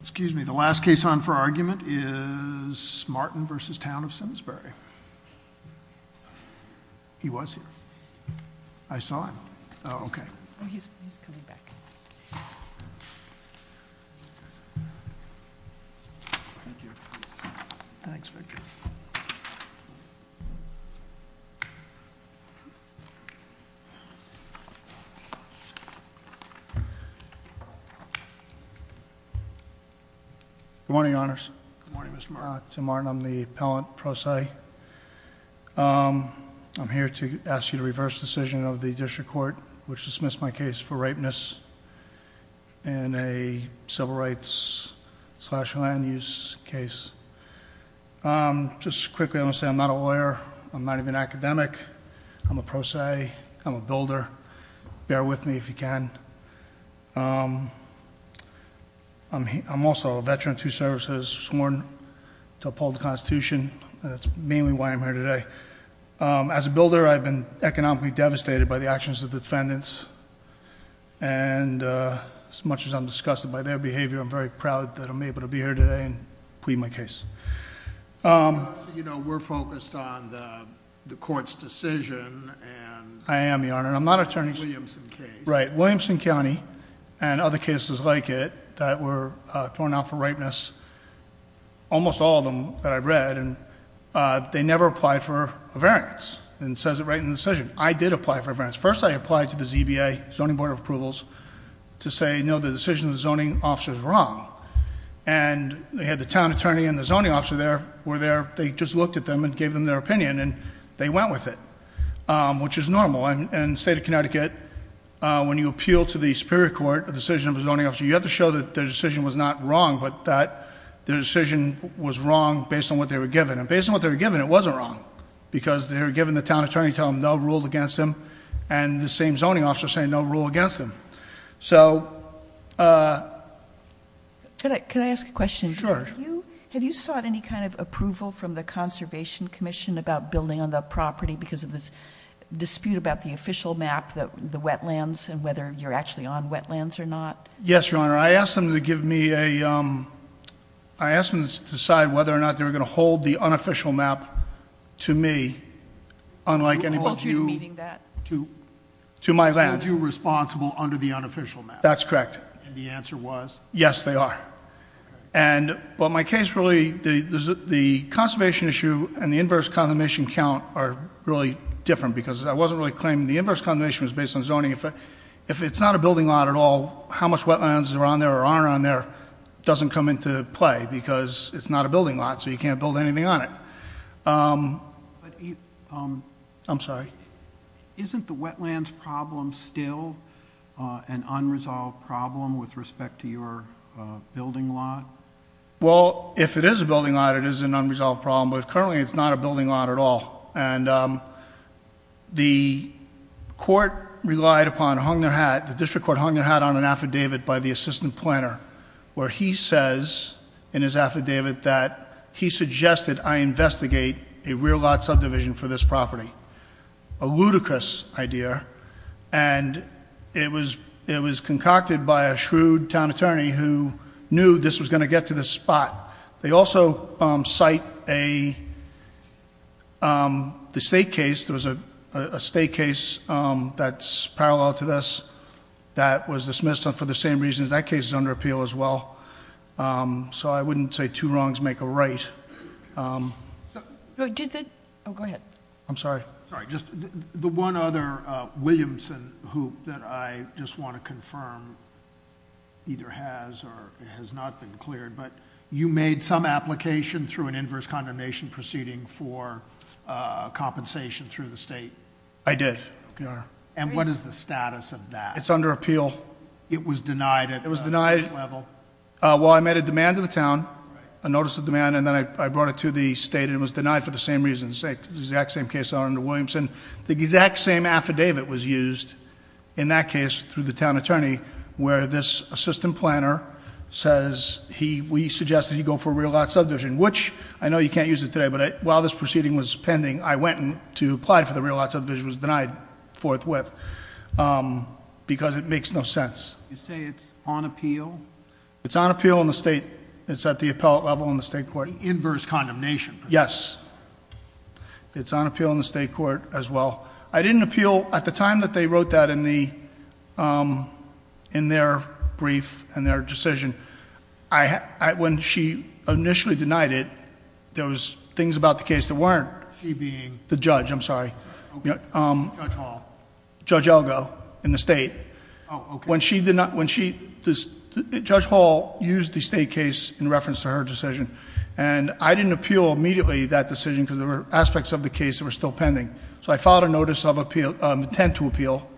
Excuse me. The last case on for argument is Martin v. Town of Simsbury. He was here. I saw him. Oh, okay. Oh, he's coming back. Thanks, Victor. Good morning, honors. Good morning, Mr. Martin. I'm the appellant pro se. I'm here to ask you to reverse the decision of the district court which dismissed my case for rapeness in a civil rights slash land use case. Just quickly, I'm going to say I'm not a lawyer. I'm not even an academic. I'm a pro se. I'm a builder. Bear with me if you can. I'm also a veteran to services sworn to uphold the Constitution. That's mainly why I'm here today. As a builder, I've been economically devastated by the actions of defendants. And as much as I'm disgusted by their behavior, I'm very proud that I'm able to be here today and plead my case. You know, we're focused on the court's decision. I am, your honor. I'm not an attorney. Right. Williamson County and other cases like it that were thrown out for rapeness. Almost all of them that I've read and they never applied for a variance and says it right in the decision. I did apply for a variance. First, I applied to the ZBA, Zoning Board of Approvals, to say, no, the decision of the zoning officer is wrong. And they had the town attorney and the zoning officer there were there. They just looked at them and gave them their opinion and they went with it, which is normal. And in the state of Connecticut, when you appeal to the Superior Court a decision of a zoning officer, you have to show that their decision was not wrong, but that their decision was wrong based on what they were given. And based on what they were given, it wasn't wrong. Because they were given the town attorney to tell them they ruled against them and the same zoning officer saying they'll rule against them. So, uh. Can I ask a question? Sure. Have you sought any kind of approval from the Conservation Commission about building on the property because of this dispute about the official map, the wetlands, and whether you're actually on wetlands or not? Yes, your honor. I asked them to give me a, um, I asked them to decide whether or not they were going to hold the unofficial map to me. Hold you to meeting that? To my land. Are you responsible under the unofficial map? That's correct. And the answer was? Yes, they are. And, but my case really, the conservation issue and the inverse condemnation count are really different because I wasn't really claiming the inverse condemnation was based on zoning. If it's not a building lot at all, how much wetlands are on there or aren't on there doesn't come into play because it's not a building lot so you can't build anything on it. I'm sorry. Isn't the wetlands problem still an unresolved problem with respect to your building lot? Well, if it is a building lot, it is an unresolved problem, but currently it's not a building lot at all. And, um, the court relied upon, hung their hat, the district court hung their hat on an affidavit by the assistant planner where he says in his affidavit that he suggested I investigate a rear lot subdivision for this property. A ludicrous idea and it was, it was concocted by a shrewd town attorney who knew this was going to get to this spot. They also, um, cite a, um, the state case. There was a state case, um, that's parallel to this that was dismissed for the same reasons. That case is under appeal as well. Um, so I wouldn't say two wrongs make a right. Um. Oh, go ahead. I'm sorry. The one other, uh, Williamson hoop that I just want to confirm either has or has not been cleared, but you made some application through an inverse condemnation proceeding for, uh, compensation through the state. I did. And what is the status of that? It's under appeal. It was denied. It was denied. Well, I made a demand to the town, a notice of demand, and then I brought it to the state and it was denied for the same reasons. Exact same case under Williamson. The exact same affidavit was used in that case through the town attorney where this assistant planner says he, we suggested he go for a rear lot subdivision. Which I know you can't use it today, but while this proceeding was pending, I went to apply for the rear lot subdivision. It was denied forthwith. Um, because it makes no sense. You say it's on appeal. It's on appeal in the state. It's at the appellate level in the state court. Inverse condemnation. Yes. It's on appeal in the state court as well. I didn't appeal at the time that they wrote that in the, um, in their brief and their decision. I, I, when she initially denied it, there was things about the case that weren't. She being. The judge. I'm sorry. Um. Judge Hall. Judge Elgo in the state. Oh, okay. When she did not, when she, Judge Hall used the state case in reference to her decision. And I didn't appeal immediately that decision because there were aspects of the case that were still pending. So I filed a notice of appeal, intent to appeal.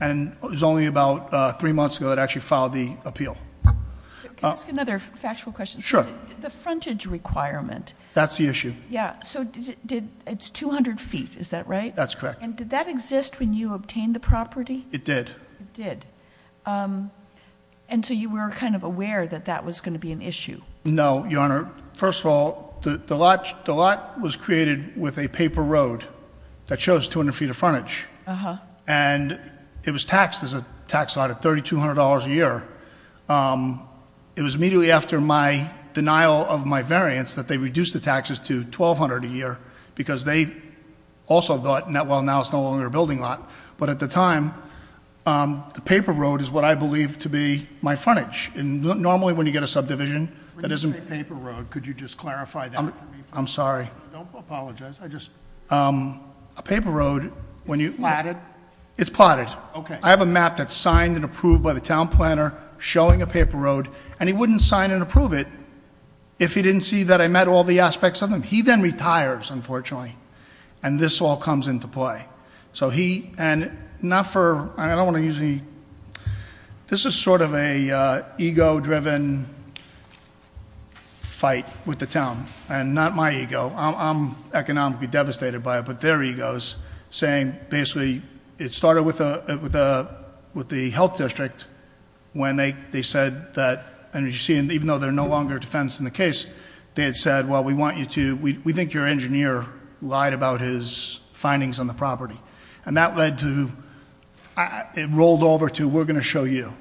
And it was only about three months ago that I actually filed the appeal. Can I ask another factual question? Sure. The frontage requirement. That's the issue. Yeah. So did, it's 200 feet, is that right? That's correct. And did that exist when you obtained the property? It did. It did. Um, and so you were kind of aware that that was going to be an issue. No, Your Honor. First of all, the, the lot, the lot was created with a paper road that shows 200 feet of frontage. Uh-huh. And it was taxed as a tax lot at $3,200 a year. Um, it was immediately after my denial of my variance that they reduced the taxes to $1,200 a year. Because they also thought, well, now it's no longer a building lot. But at the time, um, the paper road is what I believe to be my frontage. And normally when you get a subdivision that isn't- When you say paper road, could you just clarify that for me, please? I'm sorry. Don't apologize. I just- Um, a paper road, when you- Plotted? It's plotted. Okay. I have a map that's signed and approved by the town planner showing a paper road. And he wouldn't sign and approve it if he didn't see that I met all the aspects of them. He then retires, unfortunately. And this all comes into play. So he- And not for- I don't want to use any- This is sort of an ego-driven fight with the town. And not my ego. I'm economically devastated by it. But their ego is saying, basically, it started with the health district when they said that- And you see, even though they're no longer defense in the case, they had said, Well, we want you to- We think your engineer lied about his findings on the property. And that led to- It rolled over to, we're going to show you.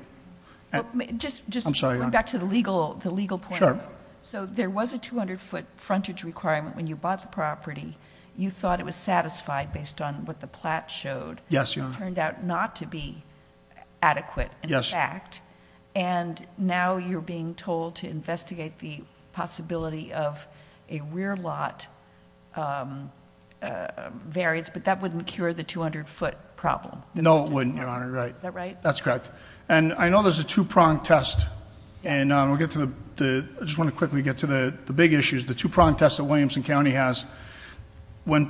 Just- I'm sorry, Your Honor. Back to the legal point. Sure. So there was a 200-foot frontage requirement when you bought the property. You thought it was satisfied based on what the plat showed. Yes, Your Honor. It turned out not to be adequate. Yes. In fact. And now you're being told to investigate the possibility of a rear lot variance. But that wouldn't cure the 200-foot problem. No, it wouldn't, Your Honor. Right. Is that right? That's correct. And I know there's a two-prong test. And we'll get to the- I just want to quickly get to the big issues, the two-prong test that Williamson County has. When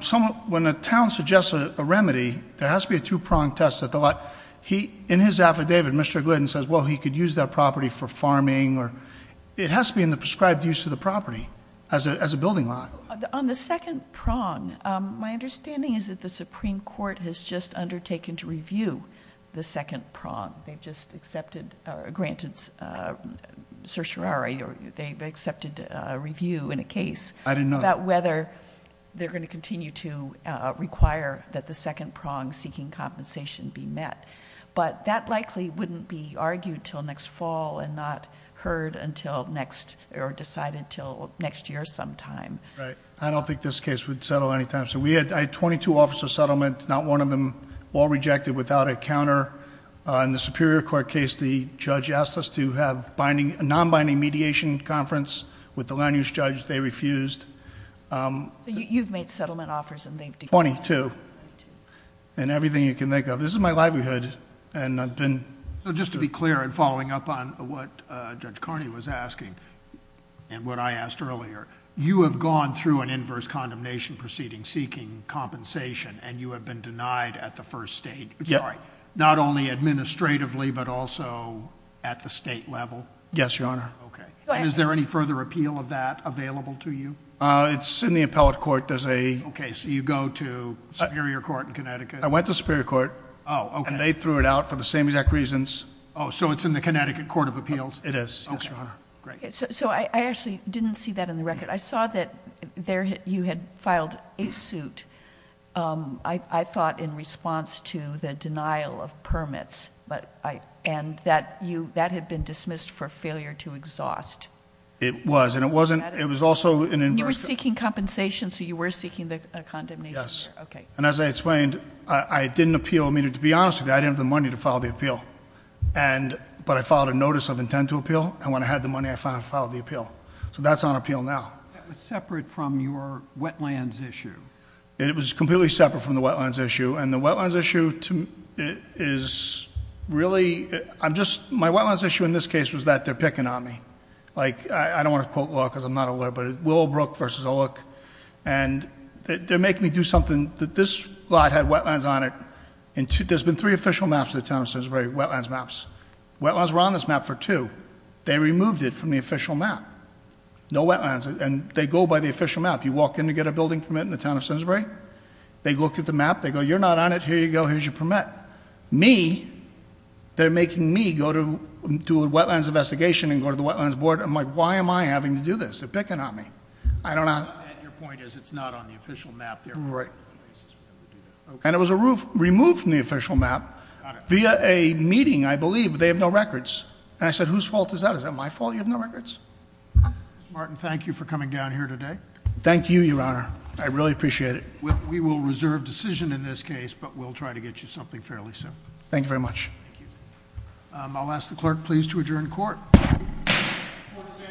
a town suggests a remedy, there has to be a two-prong test at the lot. In his affidavit, Mr. Glidden says, well, he could use that property for farming. It has to be in the prescribed use of the property as a building lot. On the second prong, my understanding is that the Supreme Court has just undertaken to review the second prong. They've just granted certiorari or they've accepted a review in a case- I didn't know that. About whether they're going to continue to require that the second prong seeking compensation be met. But that likely wouldn't be argued until next fall and not heard until next or decided until next year sometime. Right. I don't think this case would settle anytime soon. We had 22 offers of settlement. Not one of them all rejected without a counter. In the Superior Court case, the judge asked us to have a non-binding mediation conference with the land-use judge. They refused. You've made settlement offers and they've declined. Twenty-two. Twenty-two. Everything you can think of. This is my livelihood and I've been... Just to be clear and following up on what Judge Carney was asking and what I asked earlier, you have gone through an inverse condemnation proceeding seeking compensation and you have been denied at the first stage. Sorry. Not only administratively but also at the state level. Yes, Your Honor. Okay. And is there any further appeal of that available to you? It's in the appellate court. Does a... Okay. So you go to Superior Court in Connecticut. I went to Superior Court. Oh. Okay. And they threw it out for the same exact reasons. Oh. So it's in the Connecticut Court of Appeals? It is. Okay. Yes, Your Honor. Great. So I actually didn't see that in the record. I saw that you had filed a suit, I thought, in response to the denial of permits. And that had been dismissed for failure to exhaust. It was. And it was also an inverse... You were seeking compensation, so you were seeking a condemnation? Yes. Okay. And as I explained, I didn't appeal. I mean, to be honest with you, I didn't have the money to file the appeal. But I filed a notice of intent to appeal. And when I had the money, I filed the appeal. So that's on appeal now. That was separate from your wetlands issue? It was completely separate from the wetlands issue. And the wetlands issue is really... I'm just... My wetlands issue in this case was that they're picking on me. Like, I don't want to quote law because I'm not a lawyer, but Willowbrook versus Olick. And they're making me do something... This lot had wetlands on it. There's been three official maps of the town of Sainsbury, wetlands maps. Wetlands were on this map for two. They removed it from the official map. No wetlands. And they go by the official map. You walk in to get a building permit in the town of Sainsbury. They look at the map. They go, you're not on it. Here you go. Here's your permit. Me... They're making me go to do a wetlands investigation and go to the wetlands board. I'm like, why am I having to do this? They're picking on me. I don't... Your point is, it's not on the official map there. Right. And it was removed from the official map via a meeting, I believe. They have no records. And I said, whose fault is that? Is that my fault you have no records? Mr. Martin, thank you for coming down here today. Thank you, Your Honor. I really appreciate it. We will reserve decision in this case, but we'll try to get you something fairly soon. Thank you very much. Thank you. I'll ask the clerk please to adjourn court. Court is adjourned.